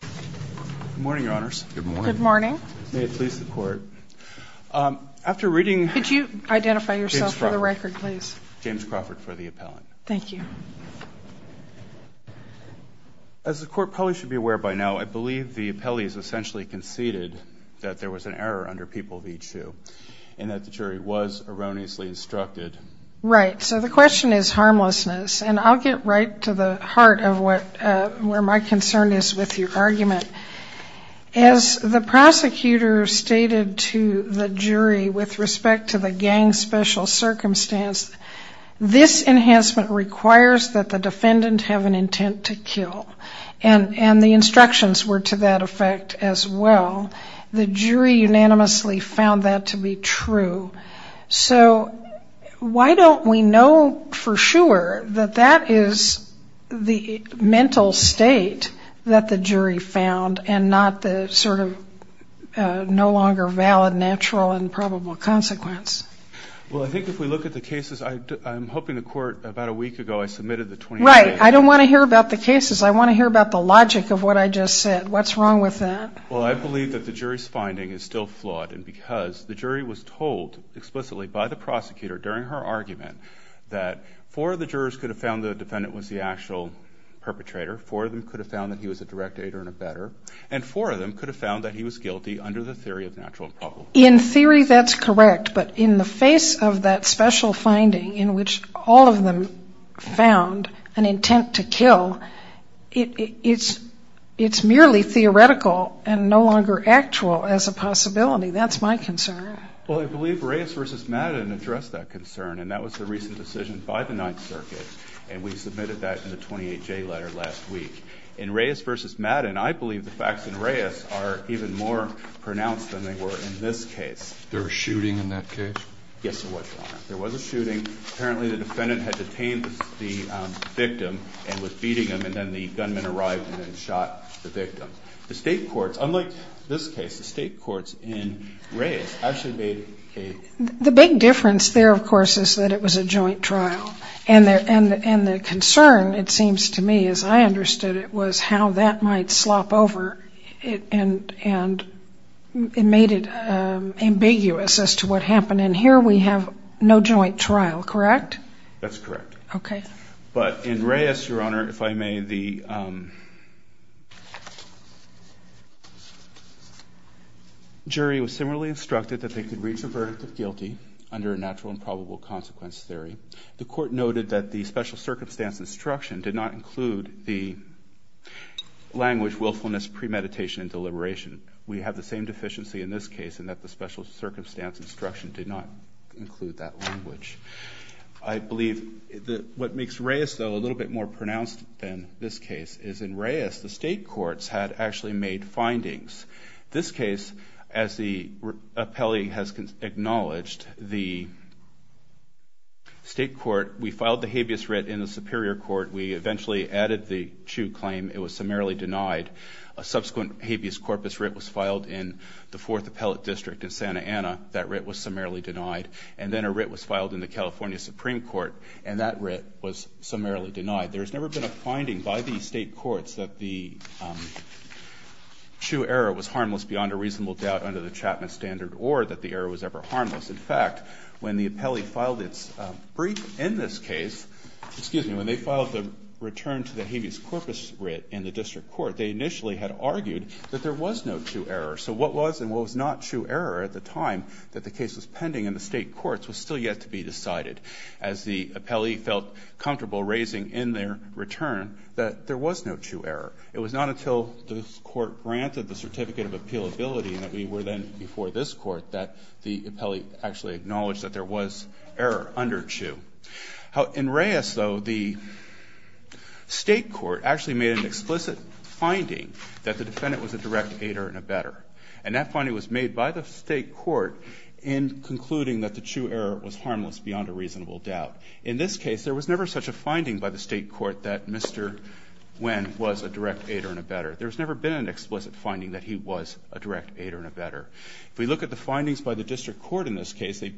Good morning, Your Honors. Good morning. Good morning. May it please the Court. After reading- Could you identify yourself for the record, please? James Crawford for the appellant. Thank you. As the Court probably should be aware by now, I believe the appellee has essentially conceded that there was an error under P.H.U. and that the jury was erroneously instructed. Right. So the question is harmlessness, and I'll get right to the heart of where my concern is with your argument. As the prosecutor stated to the jury with respect to the gang special circumstance, this enhancement requires that the defendant have an intent to kill, and the instructions were to that effect as well. The jury unanimously found that to be true. So why don't we know for sure that that is the mental state that the jury found and not the sort of no longer valid, natural, and probable consequence? Well, I think if we look at the cases, I'm hoping the Court, about a week ago, I submitted the- Right. I don't want to hear about the cases. I want to hear about the logic of what I just said. What's wrong with that? Well, I believe that the jury's finding is still flawed, and because the jury was told explicitly by the prosecutor during her argument that four of the jurors could have found the defendant was the actual perpetrator, four of them could have found that he was a direct aider and a better, and four of them could have found that he was guilty under the theory of natural and probable. In theory, that's correct, but in the face of that special finding in which all of them found an intent to kill, it's merely theoretical and no longer actual as a possibility. That's my concern. Well, I believe Reyes v. Madden addressed that concern, and that was the recent decision by the Ninth Circuit, and we submitted that in the 28J letter last week. In Reyes v. Madden, I believe the facts in Reyes are even more pronounced than they were in this case. There was a shooting in that case? Yes, there was, Your Honor. There was a shooting. Apparently, the defendant had detained the victim and was beating him, and then the gunman arrived and then shot the victim. The state courts, unlike this case, the state courts in Reyes actually made a... The big difference there, of course, is that it was a joint trial, and the concern, it seems to me, as I understood it, was how that might slop over and made it ambiguous as to what happened. And here we have no joint trial, correct? That's correct. Okay. But in Reyes, Your Honor, if I may, the jury was similarly instructed that they could reach a verdict of guilty under a natural and probable consequence theory. The court noted that the special circumstance instruction did not include the language willfulness premeditation and deliberation. We have the same deficiency in this case in that the special circumstance instruction did not include that language. I believe that what makes Reyes, though, a little bit more pronounced than this case is in Reyes, the state courts had actually made findings. This case, as the appellee has acknowledged, the state court, we filed the habeas writ in the superior court. We eventually added the true claim. It was summarily denied. A subsequent habeas corpus writ was filed in the fourth appellate district in Santa Ana. That writ was summarily denied. And then a writ was filed in the California Supreme Court, and that writ was summarily denied. There's never been a finding by the state courts that the true error was harmless beyond a reasonable doubt under the Chapman standard or that the error was ever harmless. In fact, when the appellee filed its brief in this case, excuse me, when they filed the return to the habeas corpus writ in the district court, they initially had argued that there was no true error. So what was and what was not true error at the time that the case was pending in the state courts was still yet to be decided. As the appellee felt comfortable raising in their return that there was no true error. It was not until the court granted the certificate of appealability and that we were then before this Court that the appellee actually acknowledged that there was error under true. In Reyes, though, the state court actually made an explicit finding that the defendant was a direct aider and a better, and that finding was made by the state court in concluding that the true error was harmless beyond a reasonable doubt. In this case, there was never such a finding by the state court that Mr. Nguyen was a direct aider and a better. There's never been an explicit finding that he was a direct aider and a better. If we look at the findings by the district court in this case, the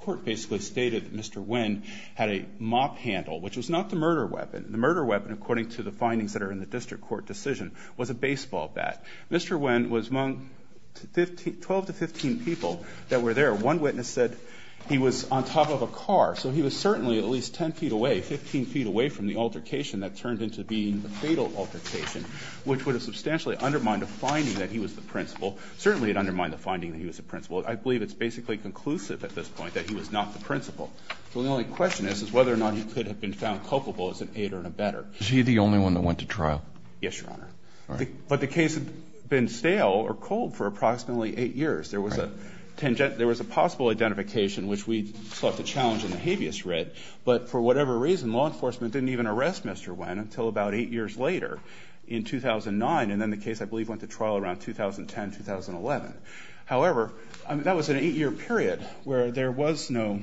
court basically stated that Mr. Nguyen had a mop handle, which was not the murder weapon. The murder weapon, according to the findings that are in the district court decision, was a baseball bat. Mr. Nguyen was among 12 to 15 people that were there. One witness said he was on top of a car. So he was certainly at least 10 feet away, 15 feet away from the altercation that turned into being a fatal altercation, which would have substantially undermined a finding that he was the principal. Certainly it undermined the finding that he was the principal. I believe it's basically conclusive at this point that he was not the principal. So the only question is, is whether or not he could have been found culpable as an aider and a better. Is he the only one that went to trial? Yes, Your Honor. But the case had been stale or cold for approximately eight years. There was a possible identification, which we sought to challenge in the habeas writ, but for whatever reason, law enforcement didn't even arrest Mr. Nguyen until about eight years later in 2009. And then the case, I believe, went to trial around 2010, 2011. However, that was an eight-year period where there was no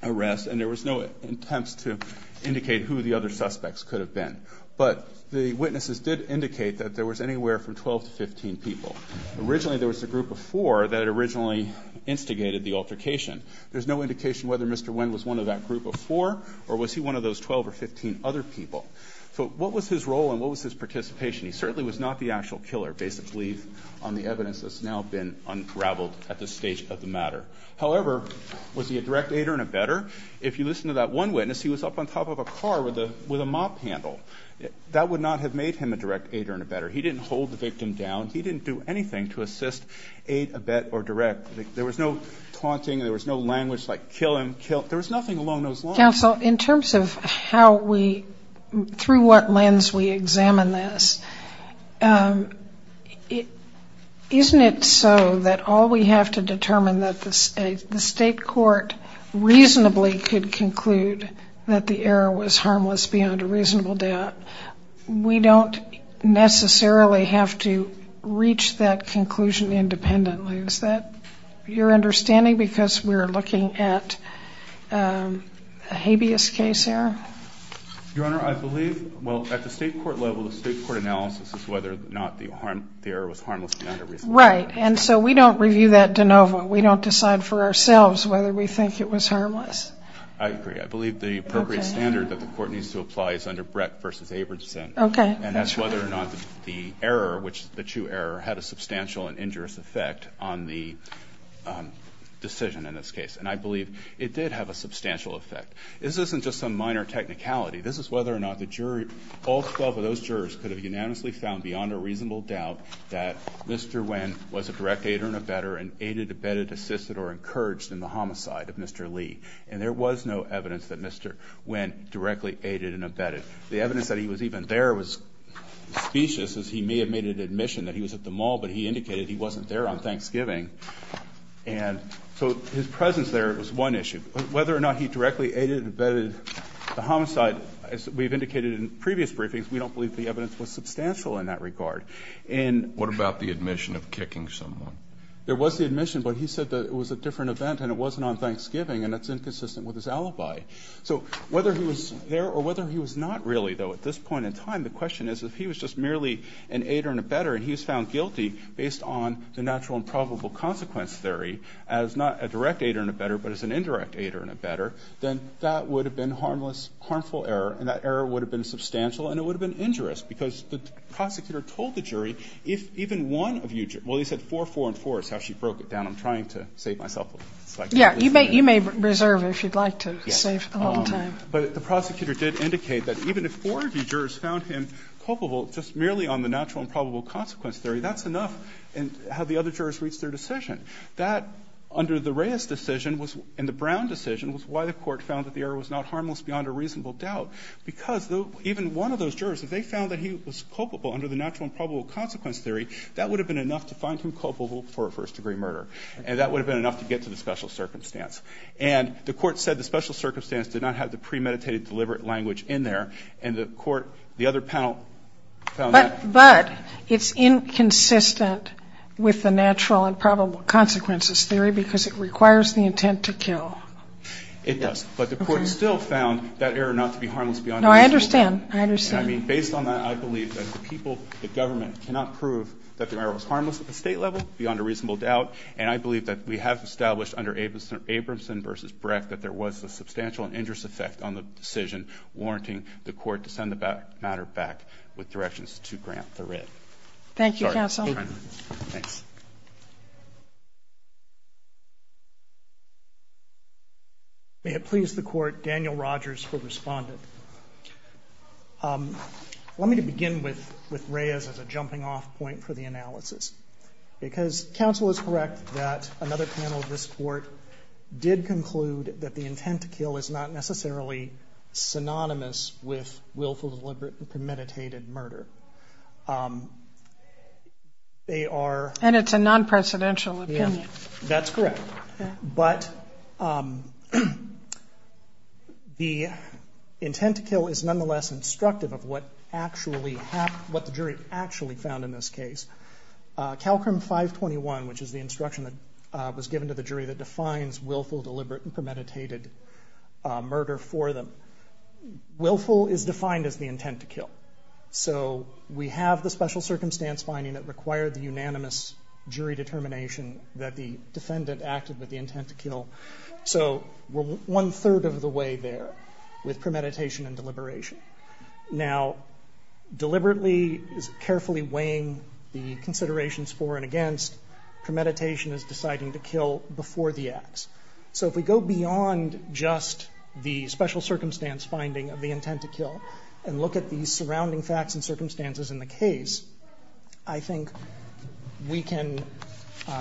arrest and there was no attempts to indicate who the other suspects could have been. But the witnesses did indicate that there was anywhere from 12 to 15 people. Originally there was a group of four that had originally instigated the altercation. There's no indication whether Mr. Nguyen was one of that group of four or was he one of those 12 or 15 other people. So what was his role and what was his participation? He certainly was not the actual killer, based, I believe, on the evidence that's now been unraveled at this stage of the matter. However, was he a direct aider and a better? If you listen to that one witness, he was up on top of a car with a mop handle. That would not have made him a direct aider and a better. He didn't hold the victim down. He didn't do anything to assist, aid, abet, or direct. There was no taunting. There was no language like kill him, kill. There was nothing along those lines. Counsel, in terms of how we, through what lens we examine this, isn't it so that all we have to determine that the state court reasonably could conclude that the error was harmless beyond a reasonable doubt, we don't necessarily have to reach that conclusion independently. Is that your understanding? Because we're looking at a habeas case here? Your Honor, I believe, well, at the state court level, the state court analysis is whether or not the error was harmless beyond a reasonable doubt. Right. And so we don't review that de novo. We don't decide for ourselves whether we think it was harmless. I agree. I believe the appropriate standard that the court needs to apply is under Brett v. Abramson, and that's whether or not the error, the true error, had a substantial and injurious effect on the decision in this case. And I believe it did have a substantial effect. This isn't just some minor technicality. This is whether or not the jury, all 12 of those jurors, could have unanimously found beyond a reasonable doubt that Mr. Nguyen was a direct aider and abetter and aided, abetted, assisted, or encouraged in the homicide of Mr. Lee. And there was no evidence that Mr. Nguyen directly aided and abetted. The evidence that he was even there was specious, as he may have made an admission that he was at the mall, but he indicated he wasn't there on Thanksgiving. And so his presence there was one issue. Whether or not he directly aided and abetted the homicide, as we've indicated in previous briefings, we don't believe the evidence was substantial in that regard. And- What about the admission of kicking someone? There was the admission, but he said that it was a different event and it wasn't on Thanksgiving. And that's inconsistent with his alibi. So whether he was there or whether he was not really, though, at this point in time, the question is, if he was just merely an aider and abetter and he was found guilty based on the natural and probable consequence theory as not a direct aider and abetter, but as an indirect aider and abetter, then that would have been harmless, harmful error, and that error would have been substantial, and it would have been injurious, because the prosecutor told the jury, if even one of you- Well, he said four, four, and four. That's how she broke it down. I'm trying to save myself a little. Yeah. You may reserve it if you'd like to save a little time. But the prosecutor did indicate that even if four of you jurors found him culpable just merely on the natural and probable consequence theory, that's enough, and have the other jurors reach their decision. That, under the Reyes decision and the Brown decision, was why the Court found that the error was not harmless beyond a reasonable doubt, because even one of those jurors, if they found that he was culpable under the natural and probable consequence theory, that would have been enough to find him culpable for a first-degree murder, and that would have been enough to get to the special circumstance. And the Court said the special circumstance did not have the premeditated deliberate language in there, and the Court, the other panel found that- But it's inconsistent with the natural and probable consequences theory, because it requires the intent to kill. It does. But the Court still found that error not to be harmless beyond a reasonable doubt. No, I understand. I understand. I mean, based on that, I believe that the people, the government, cannot prove that the error was harmless at the state level, beyond a reasonable doubt. And I believe that we have established under Abramson versus Breck that there was a substantial and injurious effect on the decision, warranting the Court to send the matter back with directions to grant the writ. Thank you, counsel. Sorry, I'm running late. Thanks. May it please the Court, Daniel Rogers for Respondent. Let me begin with Reyes as a jumping-off point for the analysis. Because counsel is correct that another panel of this Court did conclude that the intent to kill is not necessarily synonymous with willful, deliberate, and premeditated murder. They are- And it's a non-presidential opinion. Yeah, that's correct. But the intent to kill is nonetheless instructive of what the jury actually found in this case. Calcrim 521, which is the instruction that was given to the jury that defines willful, deliberate, and premeditated murder for them, willful is defined as the intent to kill. So we have the special circumstance finding that required the unanimous jury determination that the defendant acted with the intent to kill. So we're one-third of the way there with premeditation and deliberation. Now, deliberately is carefully weighing the considerations for and against. Premeditation is deciding to kill before the acts. So if we go beyond just the special circumstance finding of the intent to kill and look at the surrounding facts and circumstances in the case, I think we can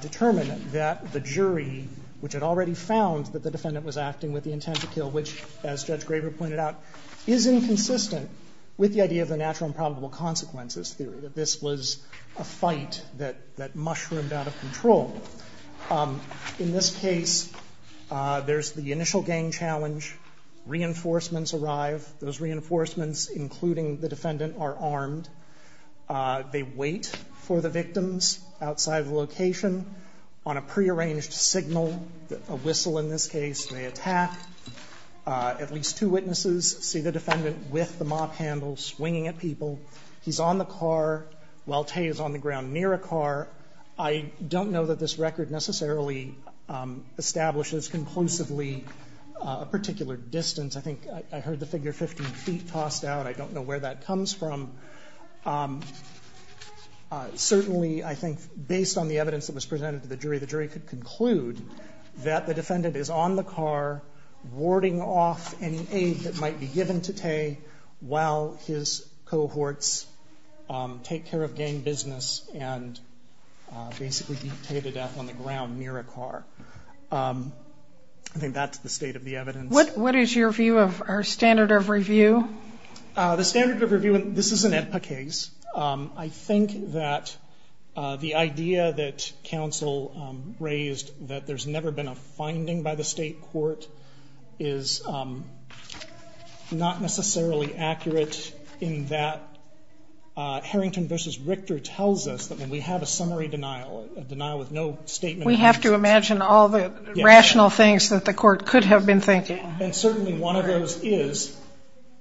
determine that the jury, which had already found that the defendant was acting with the intent to kill, which, as Judge Graber pointed out, is inconsistent with the idea of the natural and probable consequences theory, that this was a fight that mushroomed out of control. In this case, there's the initial gang challenge. Reinforcements arrive. Those reinforcements, including the defendant, are armed. They wait for the victims outside the location. On a prearranged signal, a whistle in this case, they attack. At least two witnesses see the defendant with the mop handle swinging at people. He's on the car while Tay is on the ground near a car. I don't know that this record necessarily establishes conclusively a particular distance. I think I heard the figure 15 feet tossed out. I don't know where that comes from. Certainly, I think, based on the evidence that was presented to the jury, the jury could conclude that the defendant is on the car warding off any aid that might be given to Tay while his cohorts take care of gang business and basically beat Tay to death on the ground near a car. I think that's the state of the evidence. What is your view of our standard of review? The standard of review, this is an APPA case. I think that the idea that counsel raised, that there's never been a finding by the state court, is not necessarily accurate in that Harrington versus Richter tells us that when we have a summary denial, a denial with no statement of intent. We have to imagine all the rational things that the court could have been And certainly, one of those is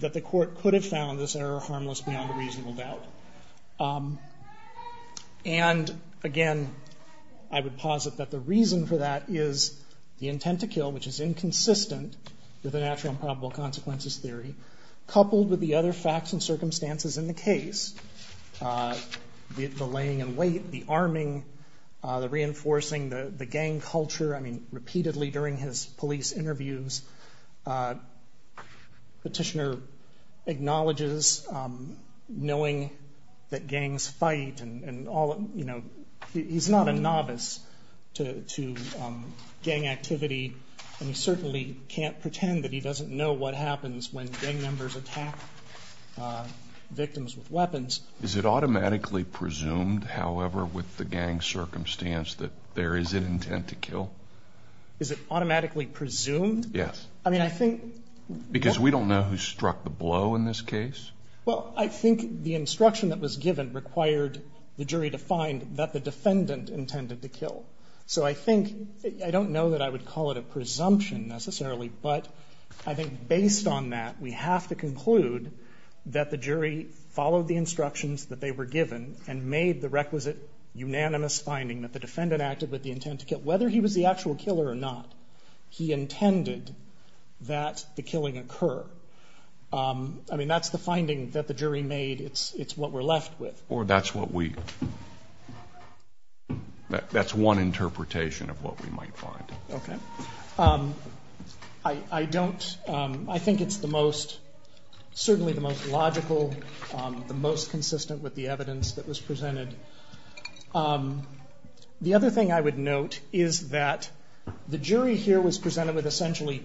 that the court could have found this error harmless beyond a reasonable doubt. And again, I would posit that the reason for that is the intent to kill, which is inconsistent with the natural and probable consequences theory, coupled with the other facts and circumstances in the case, the laying in wait, the arming, the reinforcing, the gang culture. Repeatedly during his police interviews, Petitioner acknowledges knowing that gangs fight, and he's not a novice to gang activity, and he certainly can't pretend that he doesn't know what happens when gang members attack victims with weapons. Is it automatically presumed, however, with the gang circumstance that there is an intent to kill? Is it automatically presumed? Yes. I mean, I think Because we don't know who struck the blow in this case. Well, I think the instruction that was given required the jury to find that the defendant intended to kill. So I think, I don't know that I would call it a presumption necessarily, but I think based on that, we have to conclude that the jury followed the instructions that they were given and made the requisite unanimous finding that the defendant acted with the intent to kill. Whether he was the actual killer or not, he intended that the killing occur. I mean, that's the finding that the jury made. It's what we're left with. Or that's what we, that's one interpretation of what we might find. Okay. I don't, I think it's the most, certainly the most logical, the most consistent with the evidence that was presented. The other thing I would note is that the jury here was presented with essentially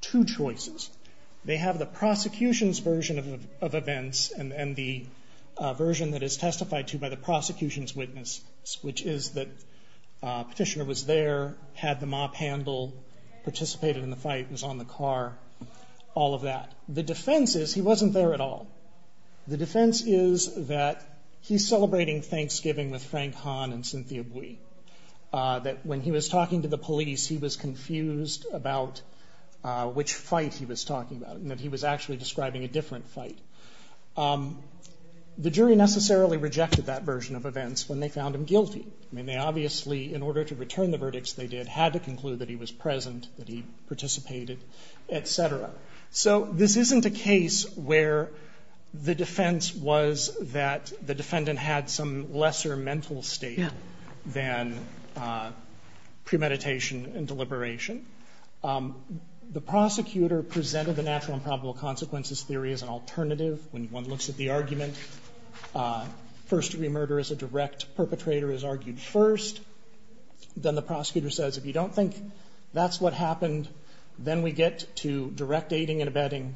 two choices. They have the prosecution's version of events and the version that is testified to by the prosecution's witness, which is that petitioner was there, had the mop handle, participated in the fight, was on the car, all of that. The defense is he wasn't there at all. The defense is that he's celebrating Thanksgiving with Frank Hahn and Cynthia Bui, that when he was talking to the police, he was confused about which fight he was talking about and that he was actually describing a different fight. The jury necessarily rejected that version of events when they found him guilty. I mean, they obviously, in order to return the verdicts they did, had to conclude that he was present, that he participated, etc. So this isn't a case where the defense was that the defendant had some lesser mental state than premeditation and deliberation. The prosecutor presented the natural and probable consequences theory as an alternative. When one looks at the argument, first-degree murder as a direct perpetrator is argued first. Then the prosecutor says, if you don't think that's what happened, then we get to direct aiding and abetting,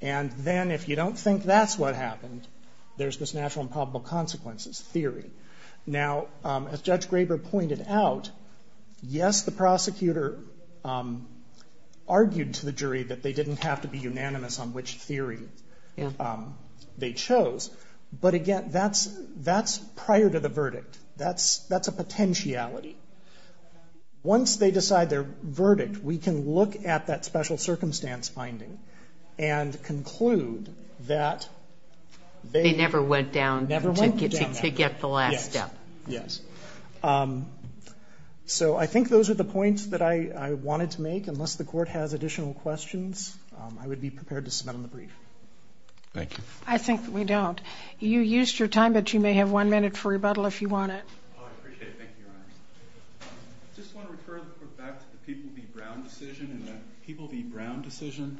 and then if you don't think that's what happened, there's this natural and probable consequences theory. Now, as Judge Graber pointed out, yes, the prosecutor argued to the jury that they didn't have to be unanimous on which theory they chose, but again, that's prior to the verdict. That's a potentiality. Once they decide their verdict, we can look at that special circumstance finding and conclude that they never went down to get the last step. Yes, yes. So I think those are the points that I wanted to make. Unless the Court has additional questions, I would be prepared to submit them in the brief. Thank you. I think we don't. You used your time, but you may have one minute for rebuttal if you want it. I appreciate it. Thank you, Your Honor. I just want to refer back to the People v. Brown decision. In the People v. Brown decision,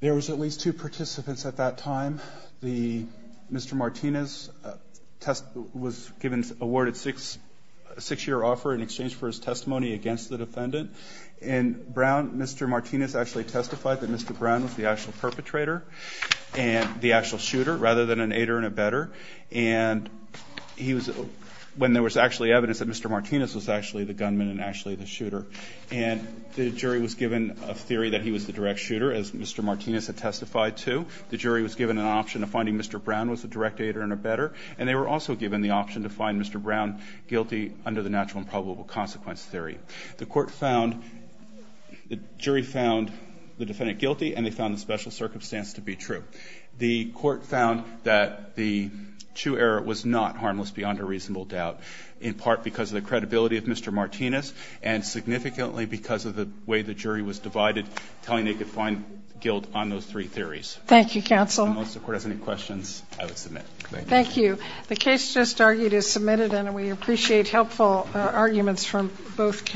there was at least two participants at that time. The Mr. Martinez was awarded a six-year offer in exchange for his testimony against the defendant. In Brown, Mr. Martinez actually testified that Mr. Brown was the actual perpetrator, the actual shooter, rather than an aider and abetter. And he was – when there was actually evidence that Mr. Martinez was actually the gunman and actually the shooter. And the jury was given a theory that he was the direct shooter, as Mr. Martinez had testified to. The jury was given an option of finding Mr. Brown was the direct aider and abetter. And they were also given the option to find Mr. Brown guilty under the natural and probable consequence theory. The Court found – the jury found the defendant guilty, and they found the special circumstance to be true. The Court found that the true error was not harmless beyond a reasonable doubt, in part because of the credibility of Mr. Martinez, and significantly because of the way the jury was divided, telling they could find guilt on those three theories. Thank you, counsel. Unless the Court has any questions, I would submit. Thank you. The case just argued is submitted, and we appreciate helpful arguments from both counsels.